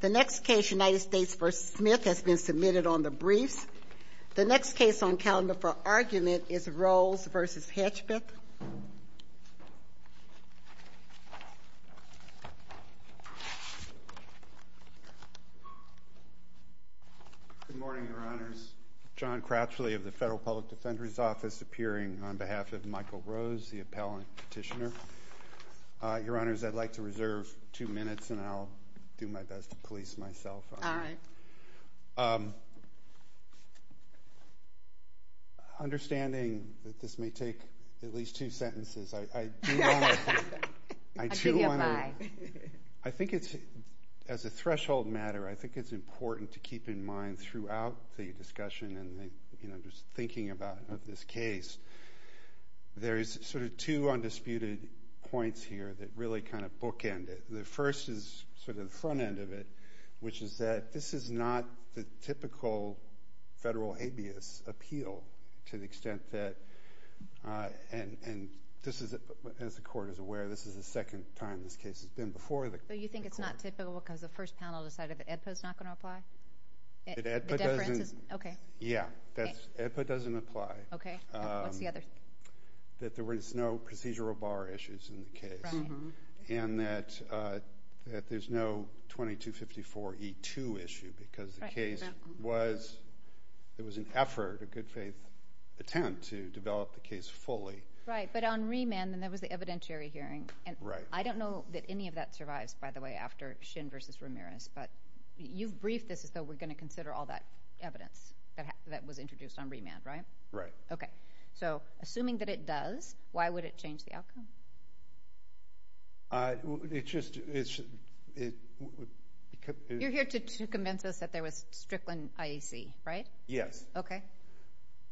The next case, United States v. Smith, has been submitted on the briefs. The next case on calendar for argument is Rose v. Hedgpeth. Good morning, Your Honors. John Cratchley of the Federal Public Defender's Office, appearing on behalf of Michael Rose, the appellant petitioner. Your Honors, I'd like to reserve two minutes, and I'll do my best to police myself. All right. Understanding that this may take at least two sentences, I do want to— I'll give you a five. I think it's—as a threshold matter, I think it's important to keep in mind throughout the discussion and, you know, just thinking about this case, there's sort of two undisputed points here that really kind of bookend it. The first is sort of the front end of it, which is that this is not the typical federal habeas appeal to the extent that— and this is, as the Court is aware, this is the second time this case has been before the Court. But you think it's not typical because the first panel decided that Hedgpeth's not going to apply? That Hedgpeth doesn't— The difference is—okay. Yeah, that's—Hedgpeth doesn't apply. Okay. What's the other— That there was no procedural bar issues in the case. Right. And that there's no 2254E2 issue because the case was— it was an effort, a good faith attempt, to develop the case fully. Right. But on remand, then there was the evidentiary hearing. Right. And I don't know that any of that survives, by the way, after Shin v. Ramirez, but you've briefed this as though we're going to consider all that evidence that was introduced on remand, right? Right. Okay. So, assuming that it does, why would it change the outcome? It just—it— You're here to convince us that there was Strickland IEC, right? Yes. Okay.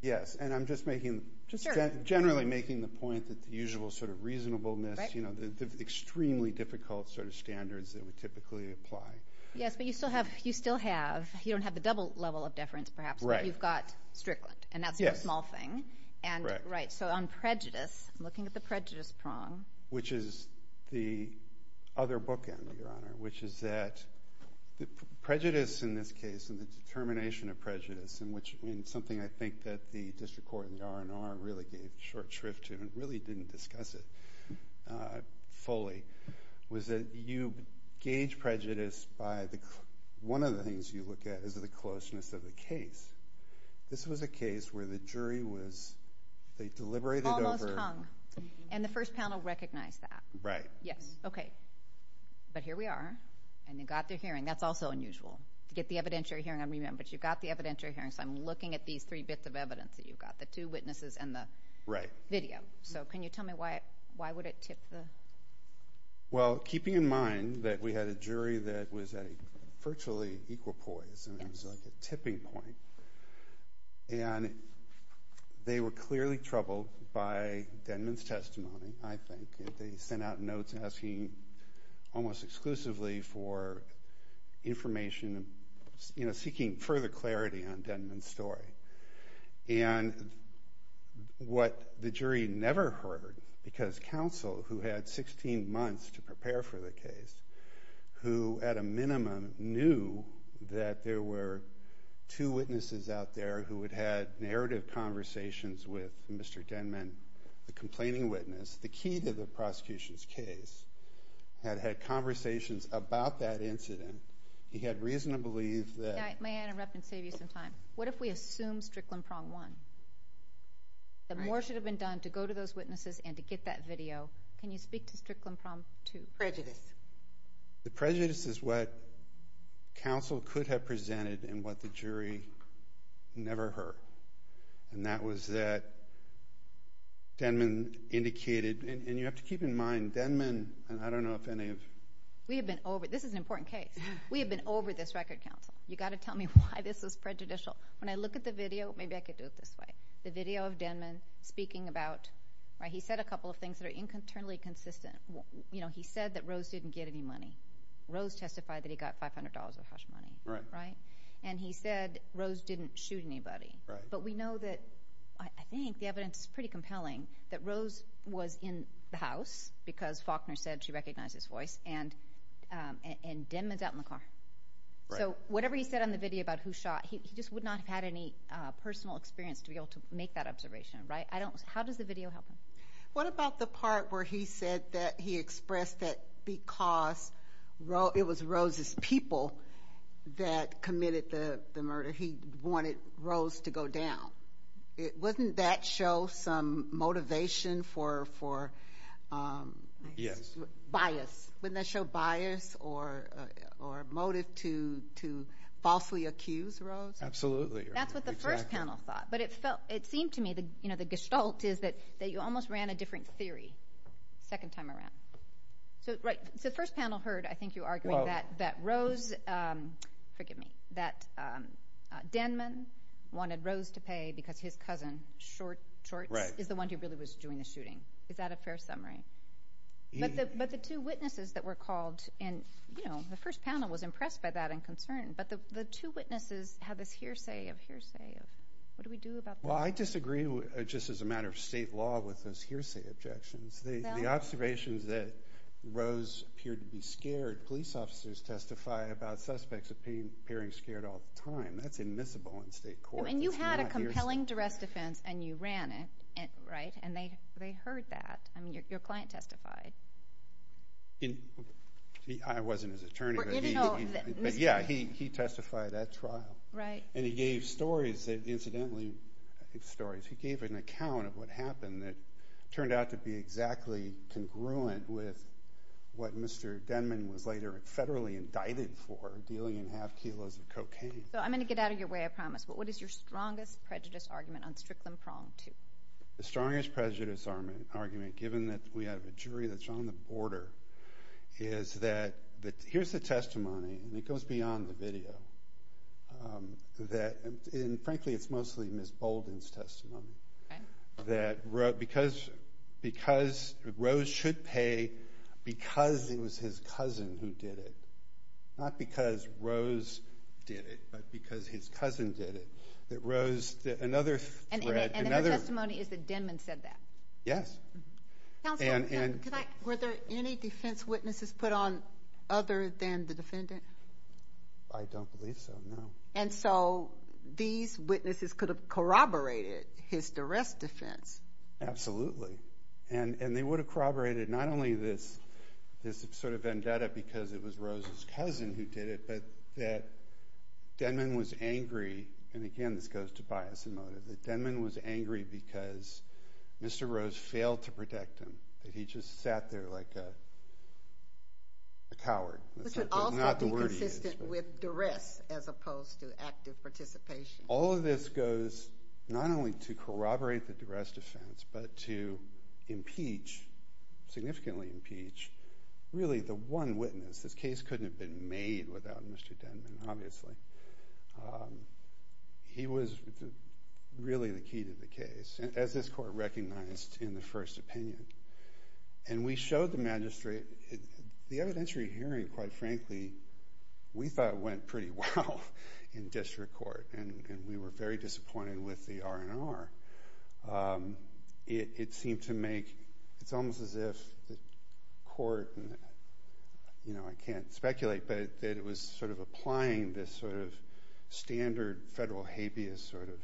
Yes. And I'm just making— Sure. Just generally making the point that the usual sort of reasonableness, you know, the extremely difficult sort of standards that we typically apply. Yes, but you still have—you still have—you don't have the double level of deference, perhaps. Right. You've got Strickland, and that's a small thing. Yes. Right. So, on prejudice, I'm looking at the prejudice prong. Which is the other bookend, Your Honor, which is that prejudice in this case, and the determination of prejudice, and something I think that the district court and the R&R really gave short shrift to and really didn't discuss it fully, was that you gauge prejudice by the—one of the things you look at is the closeness of the case. This was a case where the jury was—they deliberated over— Almost hung. And the first panel recognized that. Right. Yes. Okay. But here we are, and they got their hearing. That's also unusual. To get the evidentiary hearing, I mean, but you got the evidentiary hearing, so I'm looking at these three bits of evidence that you've got, the two witnesses and the video. Right. So, can you tell me why would it tip the— Well, keeping in mind that we had a jury that was at a virtually equal poise, and it was like a tipping point, and they were clearly troubled by Denman's testimony, I think. They sent out notes asking almost exclusively for information, seeking further clarity on Denman's story. And what the jury never heard, because counsel who had 16 months to prepare for the case, who at a minimum knew that there were two witnesses out there who had had narrative conversations with Mr. Denman, the complaining witness, the key to the prosecution's case, had had conversations about that incident. He had reason to believe that— May I interrupt and save you some time? What if we assume Strickland Prong won? Right. The more should have been done to go to those witnesses and to get that video. Can you speak to Strickland Prong 2? Prejudice. The prejudice is what counsel could have presented and what the jury never heard, and that was that Denman indicated—and you have to keep in mind, Denman—and I don't know if any of— We have been over—this is an important case. We have been over this record, counsel. You've got to tell me why this is prejudicial. When I look at the video—maybe I could do it this way. The video of Denman speaking about—he said a couple of things that are internally consistent. He said that Rose didn't get any money. Rose testified that he got $500 of house money. Right. And he said Rose didn't shoot anybody. But we know that—I think the evidence is pretty compelling— that Rose was in the house because Faulkner said she recognized his voice, and Denman's out in the car. Right. So whatever he said on the video about who shot, he just would not have had any personal experience to be able to make that observation, right? How does the video help him? What about the part where he said that he expressed that because it was Rose's people that committed the murder, he wanted Rose to go down? Wouldn't that show some motivation for— Yes. Bias. Wouldn't that show bias or motive to falsely accuse Rose? Absolutely. That's what the first panel thought. But it seemed to me the gestalt is that you almost ran a different theory the second time around. So the first panel heard, I think you argued, that Rose—forgive me— that Denman wanted Rose to pay because his cousin, Shorts, is the one who really was doing the shooting. Is that a fair summary? But the two witnesses that were called in, you know, the first panel was impressed by that and concerned. But the two witnesses had this hearsay of hearsay of what do we do about this? Well, I disagree just as a matter of state law with those hearsay objections. The observations that Rose appeared to be scared, police officers testify about suspects appearing scared all the time. That's admissible in state court. And you had a compelling duress defense, and you ran it, right? And they heard that. I mean, your client testified. I wasn't his attorney, but yeah, he testified at trial. Right. And he gave stories, incidentally stories. He gave an account of what happened that turned out to be exactly congruent with what Mr. Denman was later federally indicted for, dealing in half kilos of cocaine. So I'm going to get out of your way, I promise. But what is your strongest prejudice argument on Strickland Prong 2? The strongest prejudice argument, given that we have a jury that's on the border, is that here's the testimony, and it goes beyond the video, that frankly it's mostly Ms. Bolden's testimony. Okay. That because Rose should pay because it was his cousin who did it, not because Rose did it, but because his cousin did it. And her testimony is that Denman said that. Yes. Counsel, were there any defense witnesses put on other than the defendant? I don't believe so, no. And so these witnesses could have corroborated his duress defense. Absolutely. And they would have corroborated not only this sort of vendetta because it was Rose's cousin who did it, but that Denman was angry, and again this goes to bias and motive, that Denman was angry because Mr. Rose failed to protect him, that he just sat there like a coward. This would also be consistent with duress as opposed to active participation. All of this goes not only to corroborate the duress defense, but to impeach, significantly impeach, really the one witness. This case couldn't have been made without Mr. Denman, obviously. He was really the key to the case, as this court recognized in the first opinion. And we showed the magistrate. The evidentiary hearing, quite frankly, we thought went pretty well in district court, and we were very disappointed with the R&R. It seemed to make, it's almost as if the court, I can't speculate, but that it was sort of applying this sort of standard federal habeas sort of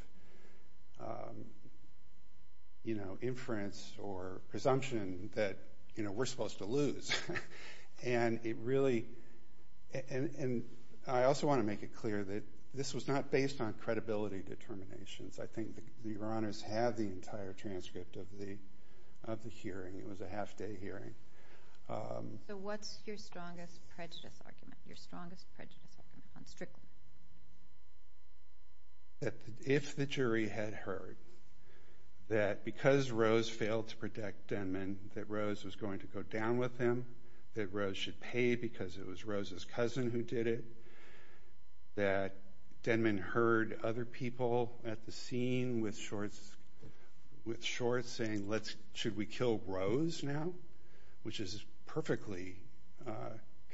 inference or presumption that we're supposed to lose. And I also want to make it clear that this was not based on credibility determinations. I think the R&Rs have the entire transcript of the hearing. It was a half-day hearing. So what's your strongest prejudice argument, your strongest prejudice argument on Strickland? That if the jury had heard that because Rose failed to protect Denman, that Rose was going to go down with him, that Rose should pay because it was Rose's cousin who did it, that Denman heard other people at the scene with shorts saying, should we kill Rose now, which is perfectly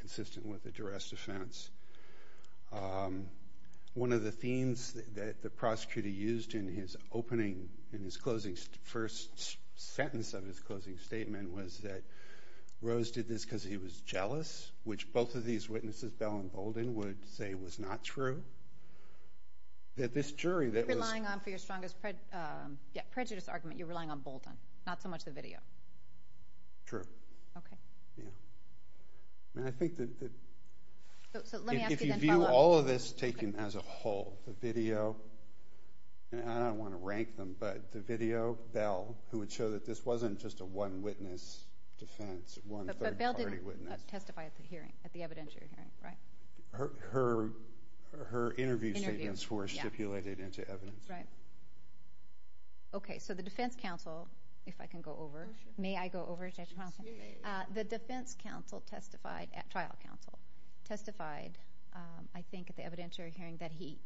consistent with the duress defense. One of the themes that the prosecutor used in his opening, in his first sentence of his closing statement was that Rose did this because he was jealous, which both of these witnesses, Bell and Bolden, would say was not true. You're relying on, for your strongest prejudice argument, you're relying on Bolden, not so much the video. True. Okay. Yeah. And I think that if you view all of this taken as a whole, the video, and I don't want to rank them, but the video, Bell, who would show that this wasn't just a one-witness defense, one third-party witness. Testify at the hearing, at the evidentiary hearing, right? Her interview statements were stipulated into evidence. Right. Okay, so the defense counsel, if I can go over. Oh, sure. May I go over? Yes, you may. The defense counsel testified at trial counsel, testified, I think, at the evidentiary hearing, that he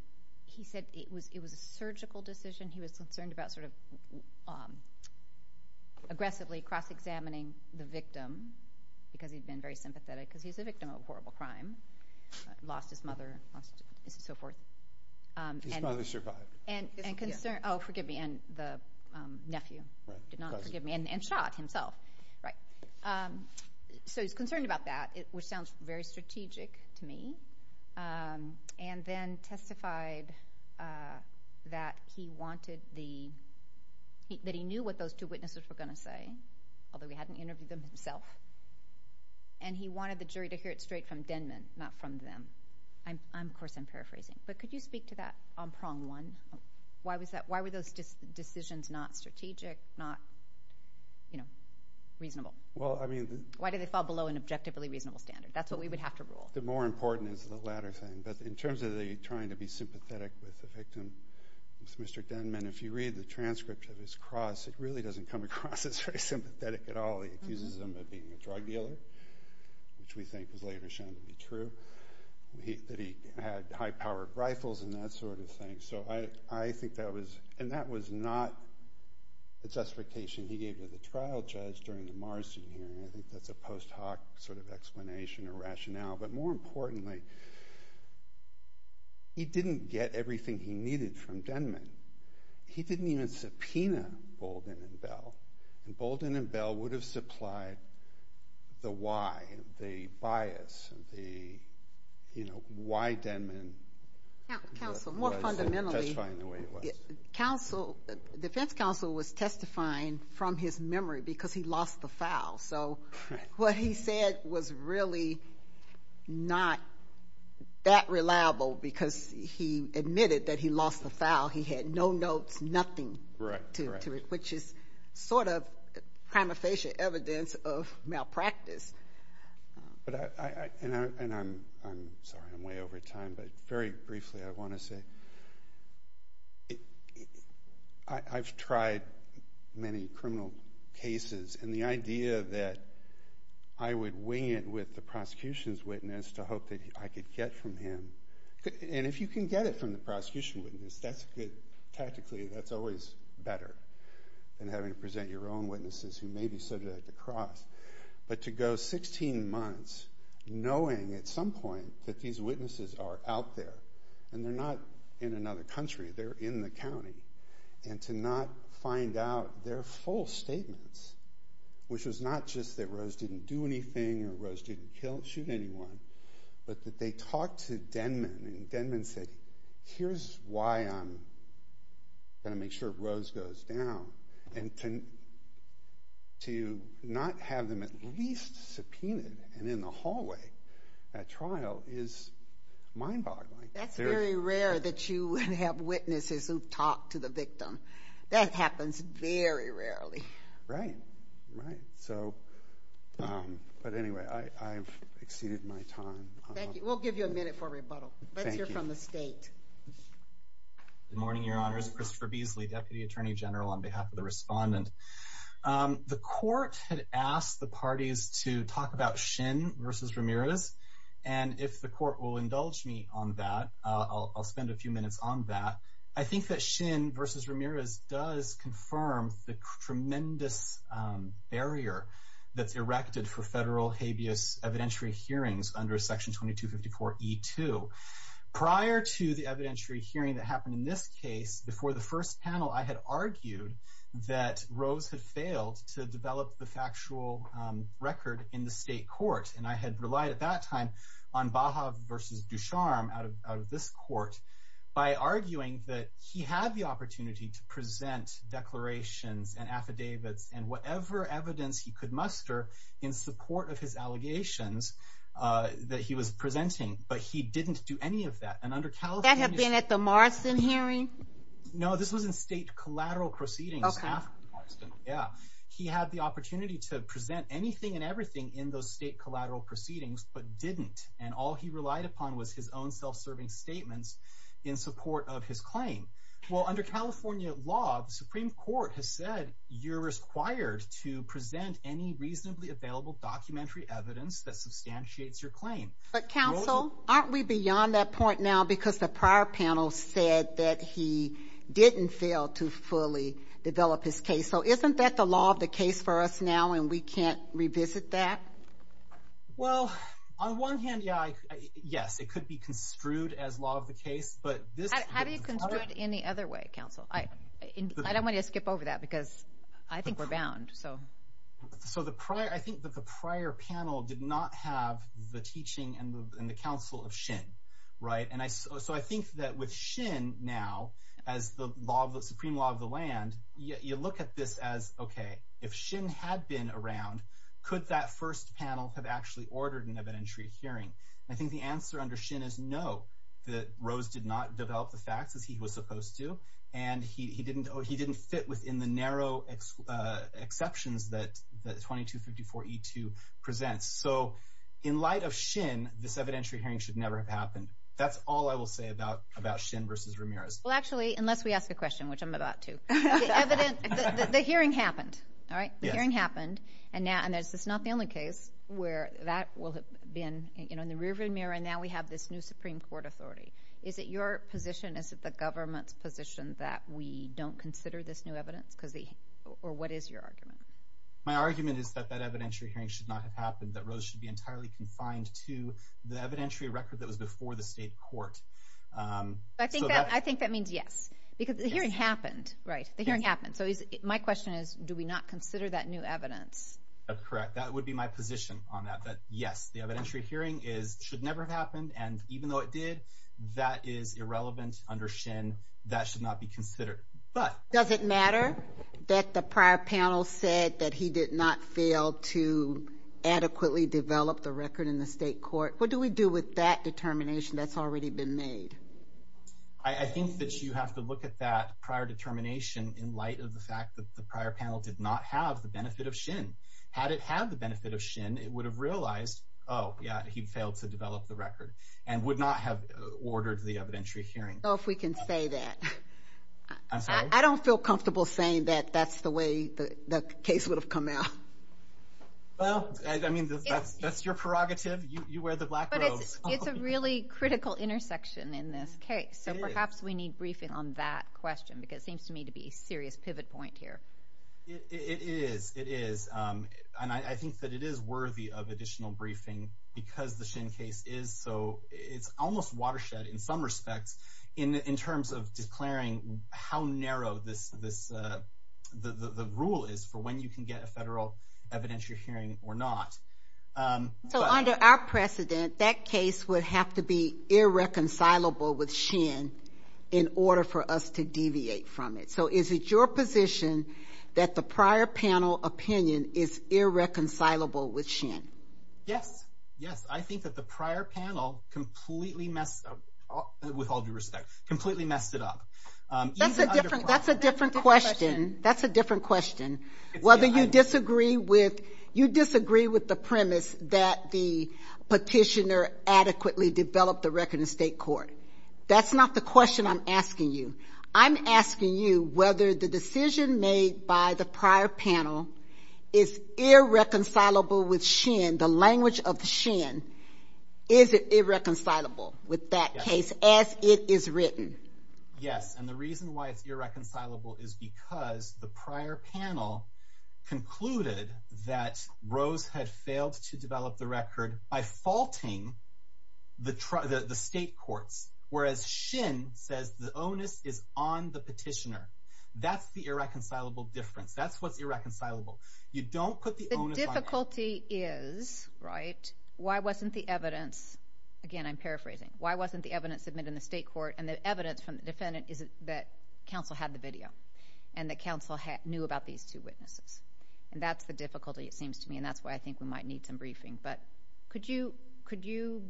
said it was a surgical decision. He was concerned about sort of aggressively cross-examining the victim because he'd been very sympathetic because he's a victim of a horrible crime, lost his mother, lost so forth. His mother survived. And concerned, oh, forgive me, and the nephew, did not forgive me, and shot himself. Right. So he's concerned about that, which sounds very strategic to me, and then testified that he knew what those two witnesses were going to say, although he hadn't interviewed them himself, and he wanted the jury to hear it straight from Denman, not from them. Of course, I'm paraphrasing, but could you speak to that on prong one? Why were those decisions not strategic, not reasonable? Why did they fall below an objectively reasonable standard? That's what we would have to rule. The more important is the latter thing. But in terms of the trying to be sympathetic with the victim, with Mr. Denman, if you read the transcript of his cross, it really doesn't come across as very sympathetic at all. He accuses him of being a drug dealer, which we think was later shown to be true, that he had high-powered rifles and that sort of thing. And that was not a justification he gave to the trial judge during the Marsden hearing. I think that's a post hoc sort of explanation or rationale. But more importantly, he didn't get everything he needed from Denman. He didn't even subpoena Bolden and Bell, and Bolden and Bell would have supplied the why, the bias, the why Denman was testifying the way he was. The defense counsel was testifying from his memory because he lost the file. So what he said was really not that reliable because he admitted that he lost the file. He had no notes, nothing to it, which is sort of prima facie evidence of malpractice. And I'm sorry, I'm way over time, but very briefly I want to say I've tried many criminal cases, and the idea that I would wing it with the prosecution's witness to hope that I could get from him. And if you can get it from the prosecution witness, that's good. Tactically, that's always better than having to present your own witnesses who may be subject to cross. But to go 16 months knowing at some point that these witnesses are out there, and they're not in another country, they're in the county, and to not find out their full statements, which was not just that Rose didn't do anything or Rose didn't shoot anyone, but that they talked to Denman and Denman said, here's why I'm going to make sure Rose goes down. And to not have them at least subpoenaed and in the hallway at trial is mind-boggling. That's very rare that you have witnesses who've talked to the victim. That happens very rarely. Right, right. But anyway, I've exceeded my time. Thank you. We'll give you a minute for rebuttal. Let's hear from the state. Good morning, Your Honors. Christopher Beasley, Deputy Attorney General, on behalf of the respondent. The court had asked the parties to talk about Shin v. Ramirez. And if the court will indulge me on that, I'll spend a few minutes on that. I think that Shin v. Ramirez does confirm the tremendous barrier that's erected for federal habeas evidentiary hearings under Section 2254E2. Prior to the evidentiary hearing that happened in this case, before the first panel, I had argued that Rose had failed to develop the factual record in the state court. And I had relied at that time on Baha v. Dusharm out of this court by arguing that he had the opportunity to present declarations and affidavits and whatever evidence he could muster in support of his allegations that he was presenting, but he didn't do any of that. That had been at the Morrison hearing? No, this was in state collateral proceedings. Okay. Yeah. He had the opportunity to present anything and everything in those state collateral proceedings, but didn't. And all he relied upon was his own self-serving statements in support of his claim. Well, under California law, the Supreme Court has said, you're required to present any reasonably available documentary evidence that substantiates your claim. But, counsel, aren't we beyond that point now? Because the prior panel said that he didn't fail to fully develop his case. So isn't that the law of the case for us now, and we can't revisit that? Well, on one hand, yes, it could be construed as law of the case. Have you construed it any other way, counsel? I don't want you to skip over that because I think we're bound. So I think that the prior panel did not have the teaching and the counsel of Shin, right? And so I think that with Shin now as the supreme law of the land, you look at this as, okay, if Shin had been around, could that first panel have actually ordered an evidentiary hearing? I think the answer under Shin is no, that Rose did not develop the facts as he was supposed to, and he didn't fit within the narrow exceptions that 2254E2 presents. So in light of Shin, this evidentiary hearing should never have happened. That's all I will say about Shin versus Ramirez. Well, actually, unless we ask a question, which I'm about to. The hearing happened, all right? Yes. The hearing happened, and this is not the only case where that will have been. In the rear of Ramirez, now we have this new Supreme Court authority. Is it your position, is it the government's position, that we don't consider this new evidence? Or what is your argument? My argument is that that evidentiary hearing should not have happened, that Rose should be entirely confined to the evidentiary record that was before the state court. I think that means yes, because the hearing happened, right? The hearing happened. So my question is, do we not consider that new evidence? That's correct. That would be my position on that, that yes, the evidentiary hearing should never have happened, and even though it did, that is irrelevant under Shin. That should not be considered. Does it matter that the prior panel said that he did not fail to adequately develop the record in the state court? What do we do with that determination that's already been made? I think that you have to look at that prior determination in light of the fact that the prior panel did not have the benefit of Shin. Had it had the benefit of Shin, it would have realized, oh, yeah, he failed to develop the record and would not have ordered the evidentiary hearing. So if we can say that. I'm sorry? I don't feel comfortable saying that that's the way the case would have come out. Well, I mean, that's your prerogative. You wear the black robes. But it's a really critical intersection in this case, so perhaps we need briefing on that question because it seems to me to be a serious pivot point here. It is. It is. And I think that it is worthy of additional briefing because the Shin case is so almost watershed in some respects in terms of declaring how narrow the rule is for when you can get a federal evidentiary hearing or not. So under our precedent, that case would have to be irreconcilable with Shin in order for us to deviate from it. So is it your position that the prior panel opinion is irreconcilable with Shin? Yes. Yes. I think that the prior panel completely messed up, with all due respect, completely messed it up. That's a different question. That's a different question. Whether you disagree with the premise that the petitioner adequately developed the record in state court. That's not the question I'm asking you. I'm asking you whether the decision made by the prior panel is irreconcilable with Shin, the language of Shin. Is it irreconcilable with that case as it is written? Yes. And the reason why it's irreconcilable is because the prior panel concluded that Rose had failed to develop the record by faulting the state courts, whereas Shin says the onus is on the petitioner. That's the irreconcilable difference. That's what's irreconcilable. You don't put the onus on the petitioner. The difficulty is, right, why wasn't the evidence, again I'm paraphrasing, why wasn't the evidence submitted in the state court and the evidence from the defendant is that counsel had the video and that counsel knew about these two witnesses. And that's the difficulty, it seems to me, and that's why I think we might need some briefing. But could you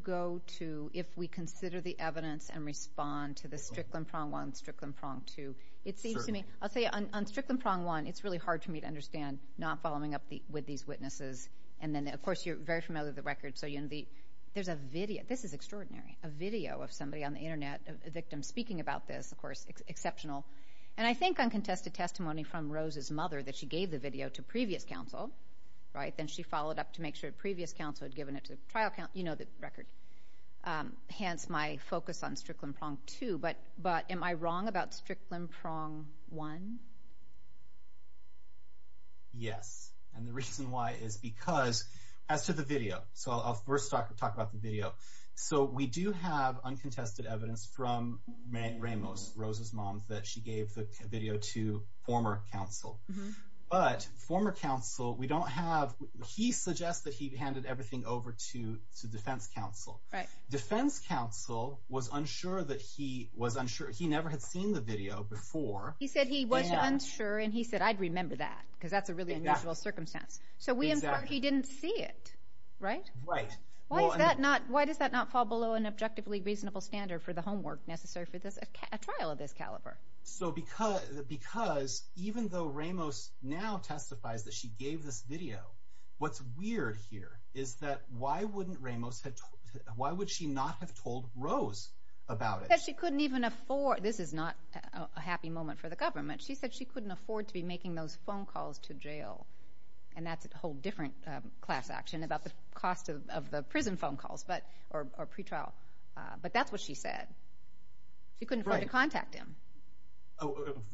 go to, if we consider the evidence and respond to the Strickland prong one, Strickland prong two. It seems to me, I'll tell you, on Strickland prong one, it's really hard for me to understand not following up with these witnesses. And then, of course, you're very familiar with the record, so there's a video, this is extraordinary, a video of somebody on the Internet, a victim speaking about this, of course, exceptional. And I think uncontested testimony from Rose's mother that she gave the video to previous counsel, right, then she followed up to make sure previous counsel had given it to the trial counsel, you know the record. Hence my focus on Strickland prong two. But am I wrong about Strickland prong one? Yes. And the reason why is because, as to the video, so I'll first talk about the video. So we do have uncontested evidence from Rose's mom that she gave the video to former counsel. But former counsel, we don't have, he suggests that he handed everything over to defense counsel. Defense counsel was unsure that he was unsure, he never had seen the video before. He said he was unsure and he said, I'd remember that, because that's a really unusual circumstance. So we infer he didn't see it, right? Right. Why does that not fall below an objectively reasonable standard for the homework necessary for a trial of this caliber? So because even though Ramos now testifies that she gave this video, what's weird here is that why wouldn't Ramos, why would she not have told Rose about it? She said she couldn't even afford, this is not a happy moment for the government, she said she couldn't afford to be making those phone calls to jail. And that's a whole different class action about the cost of the prison phone calls, or pretrial. But that's what she said. She couldn't afford to contact him.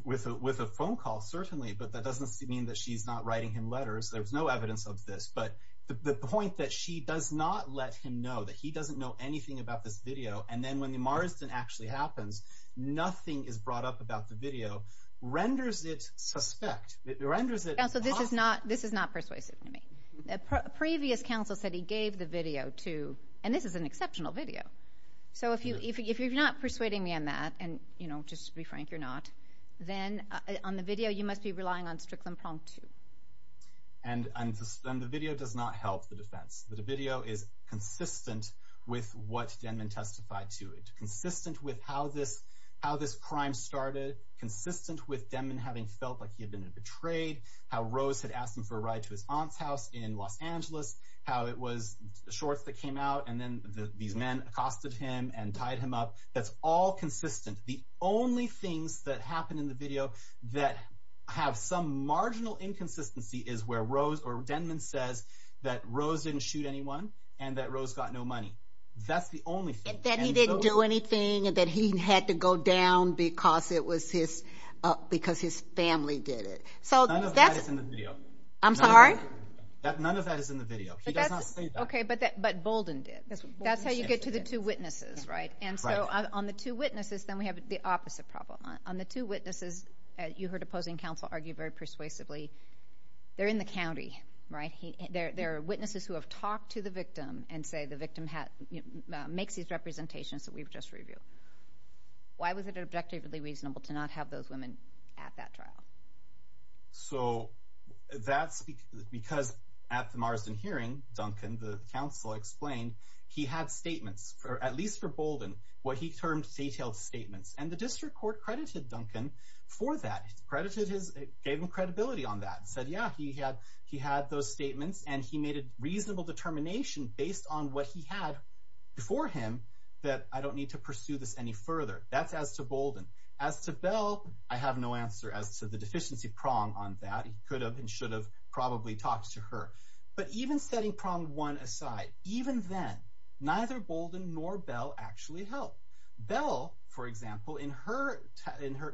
With a phone call, certainly, but that doesn't mean that she's not writing him letters. There's no evidence of this, but the point that she does not let him know, that he doesn't know anything about this video, and then when the Marsden actually happens, nothing is brought up about the video, renders it suspect. It renders it impossible. Counsel, this is not persuasive to me. Previous counsel said he gave the video to, and this is an exceptional video. So if you're not persuading me on that, and just to be frank, you're not, then on the video you must be relying on Strickland-Plonk too. And the video does not help the defense. The video is consistent with what Denman testified to, consistent with how this crime started, consistent with Denman having felt like he had been betrayed, how Rose had asked him for a ride to his aunt's house in Los Angeles, how it was the shorts that came out, and then these men accosted him and tied him up. That's all consistent. The only things that happen in the video that have some marginal inconsistency is where Rose or Denman says that Rose didn't shoot anyone and that Rose got no money. That's the only thing. That he didn't do anything and that he had to go down because his family did it. None of that is in the video. I'm sorry? None of that is in the video. He does not say that. Okay, but Bolden did. That's how you get to the two witnesses, right? Right. And so on the two witnesses, then we have the opposite problem. On the two witnesses, you heard opposing counsel argue very persuasively, they're in the county, right? They're witnesses who have talked to the victim and say the victim makes these representations that we've just reviewed. Why was it objectively reasonable to not have those women at that trial? So that's because at the Marsden hearing, Duncan, the counsel, explained he had statements, at least for Bolden, what he termed detailed statements. And the district court credited Duncan for that. It gave him credibility on that. It said, yeah, he had those statements, and he made a reasonable determination based on what he had before him that I don't need to pursue this any further. That's as to Bolden. As to Bell, I have no answer as to the deficiency prong on that. He could have and should have probably talked to her. But even setting prong one aside, even then, neither Bolden nor Bell actually helped. Bell, for example, in her,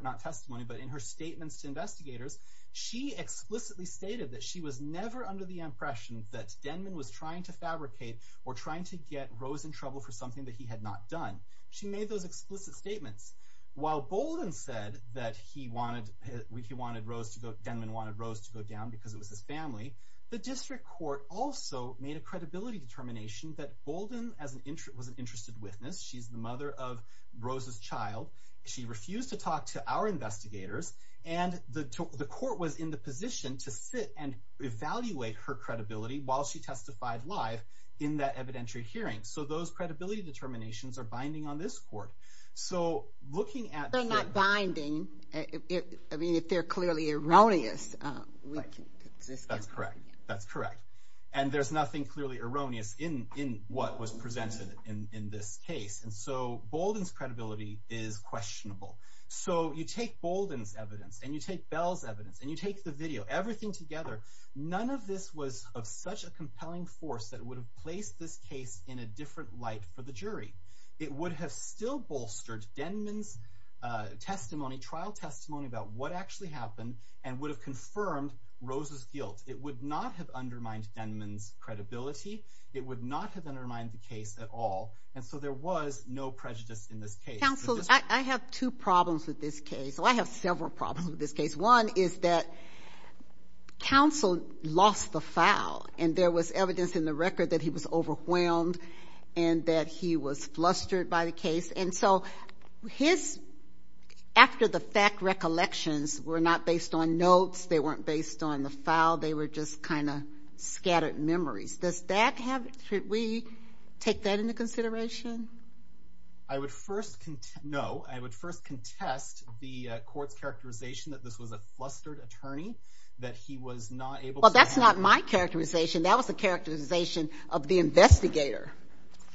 not testimony, but in her statements to investigators, she explicitly stated that she was never under the impression that Denman was trying to fabricate or trying to get Rose in trouble for something that he had not done. She made those explicit statements. While Bolden said that he wanted, he wanted Rose to go, Denman wanted Rose to go down because it was his family, the district court also made a credibility determination that Bolden was an interested witness. She's the mother of Rose's child. She refused to talk to our investigators. And the court was in the position to sit and evaluate her credibility while she testified live in that evidentiary hearing. So those credibility determinations are binding on this court. So looking at- They're not binding. I mean, if they're clearly erroneous, we can- That's correct. That's correct. And there's nothing clearly erroneous in what was presented in this case. And so Bolden's credibility is questionable. So you take Bolden's evidence and you take Bell's evidence and you take the video, everything together, none of this was of such a compelling force that would have placed this case in a different light for the jury. It would have still bolstered Denman's testimony, trial testimony about what actually happened and would have confirmed Rose's guilt. It would not have undermined Denman's credibility. It would not have undermined the case at all. And so there was no prejudice in this case. Counsel, I have two problems with this case. Well, I have several problems with this case. One is that counsel lost the file, and there was evidence in the record that he was overwhelmed and that he was flustered by the case. And so his-after the fact recollections were not based on notes, they weren't based on the file, they were just kind of scattered memories. Does that have-should we take that into consideration? I would first-no. I would first contest the court's characterization that this was a flustered attorney, that he was not able to- Well, that's not my characterization. That was the characterization of the investigator.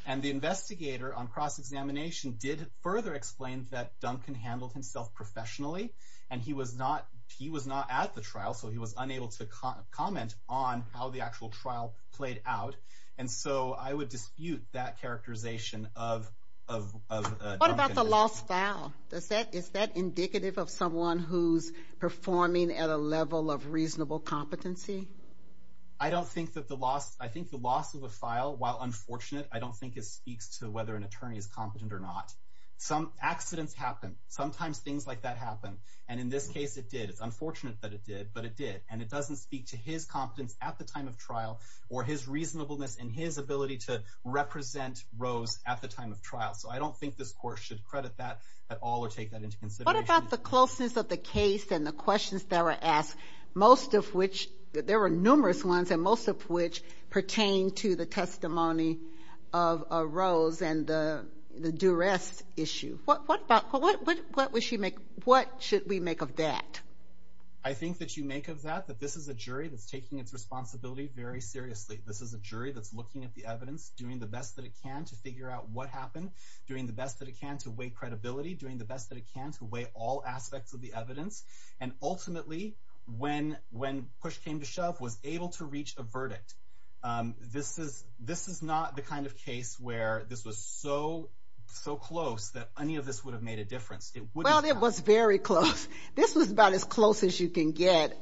And the investigator on cross-examination did further explain that Duncan handled himself professionally, and he was not-he was not at the trial, so he was unable to comment on how the actual trial played out. And so I would dispute that characterization of Duncan. What about the lost file? Does that-is that indicative of someone who's performing at a level of reasonable competency? I don't think that the loss-I think the loss of a file, while unfortunate, I don't think it speaks to whether an attorney is competent or not. Some accidents happen. Sometimes things like that happen. And in this case it did. It's unfortunate that it did, but it did. And it doesn't speak to his competence at the time of trial or his reasonableness and his ability to represent Rose at the time of trial. So I don't think this court should credit that at all or take that into consideration. What about the closeness of the case and the questions that were asked, most of which-there were numerous ones, and most of which pertained to the testimony of Rose and the duress issue? What about-what should we make of that? I think that you make of that that this is a jury that's taking its responsibility very seriously. This is a jury that's looking at the evidence, doing the best that it can to figure out what happened, doing the best that it can to weigh credibility, doing the best that it can to weigh all aspects of the evidence. And ultimately, when push came to shove, was able to reach a verdict. This is-this is not the kind of case where this was so, so close that any of this would have made a difference. Well, it was very close. This was about as close as you can get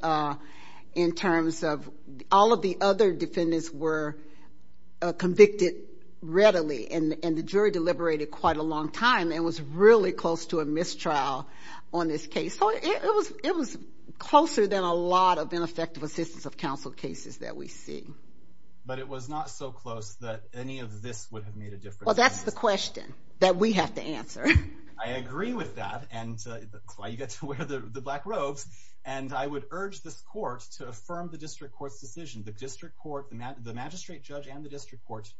in terms of all of the other defendants were convicted readily, and the jury deliberated quite a long time and was really close to a mistrial on this case. So it was closer than a lot of ineffective assistance of counsel cases that we see. But it was not so close that any of this would have made a difference. Well, that's the question that we have to answer. I agree with that, and that's why you get to wear the black robes. And I would urge this court to affirm the district court's decision. The district court-the magistrate judge and the district court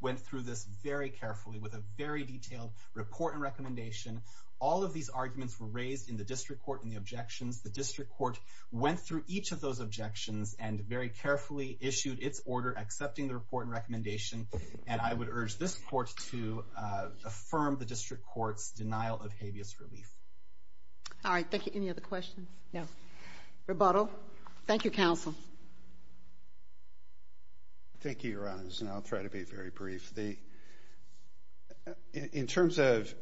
went through this very carefully with a very detailed report and recommendation. All of these arguments were raised in the district court in the objections. The district court went through each of those objections and very carefully issued its order, accepting the report and recommendation. And I would urge this court to affirm the district court's denial of habeas relief. All right. Thank you. Any other questions? No. Rebuttal? Thank you, counsel. Thank you, Your Honor, and I'll try to be very brief. In terms of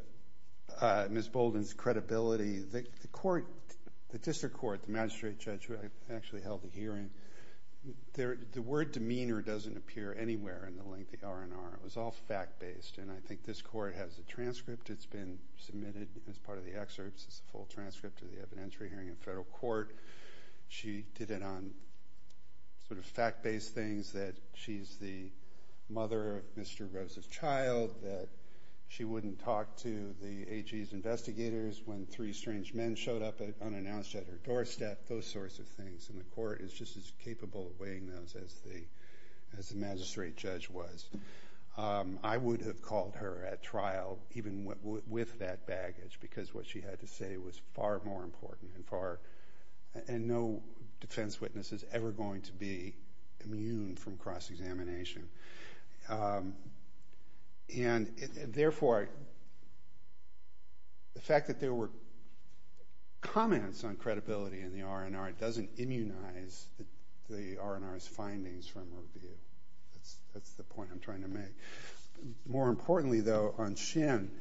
Ms. Bolden's credibility, the court-the district court, the magistrate judge, who actually held the hearing-the word demeanor doesn't appear anywhere in the lengthy R&R. It was all fact-based, and I think this court has a transcript. It's been submitted as part of the excerpts. It's a full transcript of the evidentiary hearing in federal court. She did it on sort of fact-based things that she's the mother of Mr. Rose's child, that she wouldn't talk to the AG's investigators when three strange men showed up unannounced at her doorstep, those sorts of things. And the court is just as capable of weighing those as the magistrate judge was. I would have called her at trial even with that baggage because what she had to say was far more important and no defense witness is ever going to be immune from cross-examination. And, therefore, the fact that there were comments on credibility in the R&R doesn't immunize the R&R's findings from review. That's the point I'm trying to make. More importantly, though, on Shin,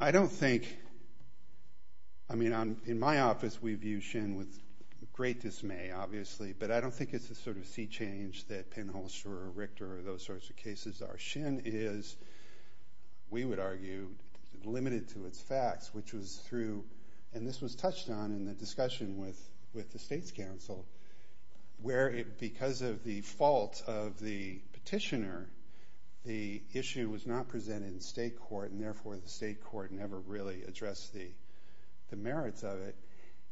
I don't think-I mean, in my office, we view Shin with great dismay, obviously, but I don't think it's the sort of sea change that Penholzer or Richter or those sorts of cases are. Shin is, we would argue, limited to its facts, which was through-and this was touched on in the discussion with the state's counsel, where because of the fault of the petitioner, the issue was not presented in state court and, therefore, the state court never really addressed the merits of it.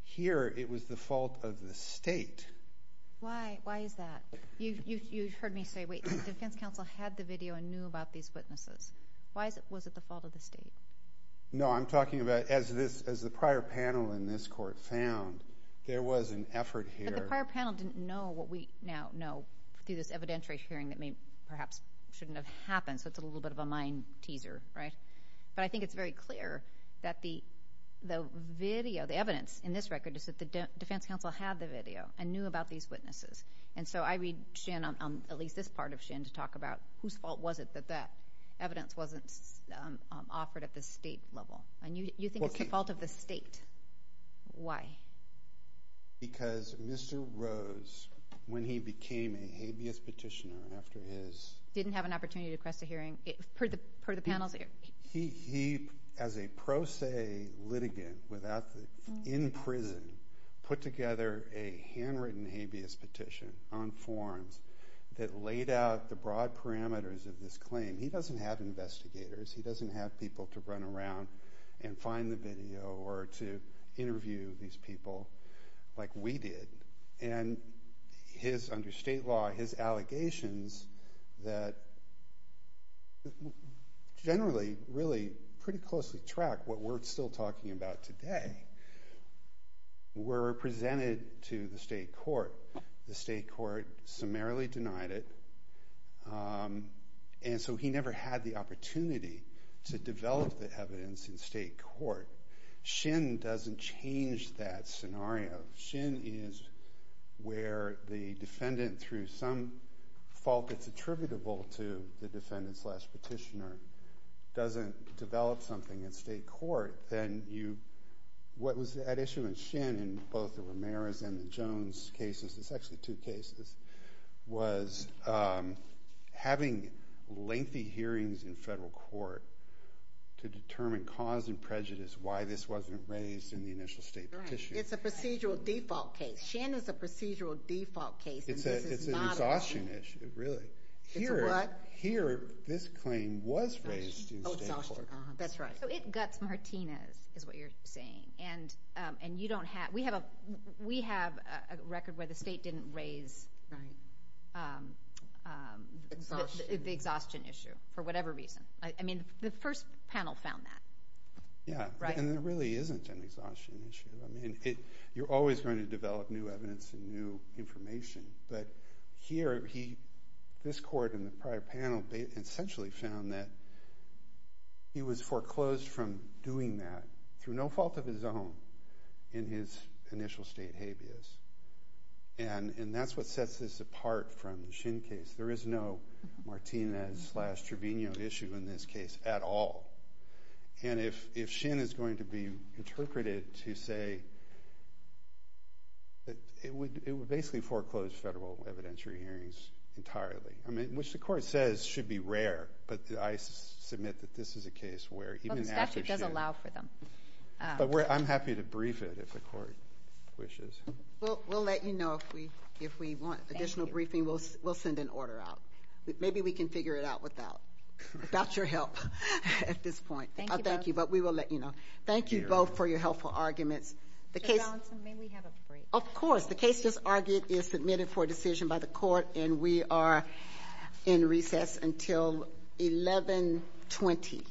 Here, it was the fault of the state. Why is that? You've heard me say, wait, the defense counsel had the video and knew about these witnesses. Why was it the fault of the state? No, I'm talking about as the prior panel in this court found, there was an effort here- But the prior panel didn't know what we now know through this evidentiary hearing that perhaps shouldn't have happened, so it's a little bit of a mind teaser, right? But I think it's very clear that the video, the evidence in this record is that the defense counsel had the video and knew about these witnesses, and so I read Shin on at least this part of Shin to talk about whose fault was it that that evidence wasn't offered at the state level. You think it's the fault of the state. Why? Because Mr. Rose, when he became a habeas petitioner after his- He, as a pro se litigant in prison, put together a handwritten habeas petition on forms that laid out the broad parameters of this claim. He doesn't have investigators. He doesn't have people to run around and find the video or to interview these people like we did. And his, under state law, his allegations that generally really pretty closely track what we're still talking about today were presented to the state court. The state court summarily denied it, and so he never had the opportunity to develop the evidence in state court. Shin doesn't change that scenario. Shin is where the defendant, through some fault that's attributable to the defendant slash petitioner, doesn't develop something in state court, then you- What was at issue in Shin in both the Ramirez and the Jones cases, it's actually two cases, was having lengthy hearings in federal court to determine cause and prejudice why this wasn't raised in the initial state petition. It's a procedural default case. Shin is a procedural default case, and this is not a- It's an exhaustion issue, really. It's a what? Here, this claim was raised in state court. Oh, exhaustion. That's right. So it guts Martinez, is what you're saying, and you don't have- We have a record where the state didn't raise the exhaustion issue for whatever reason. I mean, the first panel found that, right? Yeah, and it really isn't an exhaustion issue. I mean, you're always going to develop new evidence and new information, but here, this court in the prior panel essentially found that he was foreclosed from doing that through no fault of his own in his initial state habeas, and that's what sets this apart from the Shin case. There is no Martinez slash Trevino issue in this case at all, and if Shin is going to be interpreted to say that it would basically foreclose federal evidentiary hearings entirely, which the court says should be rare, but I submit that this is a case where even after- Well, the statute does allow for them. But I'm happy to brief it if the court wishes. Well, we'll let you know if we want additional briefing. Thank you. We'll send an order out. Maybe we can figure it out without your help at this point. Thank you both. I'll thank you, but we will let you know. Thank you both for your helpful arguments. Judge Allison, may we have a break? Of course. The case just argued is submitted for decision by the court, and we are in recess until 1120.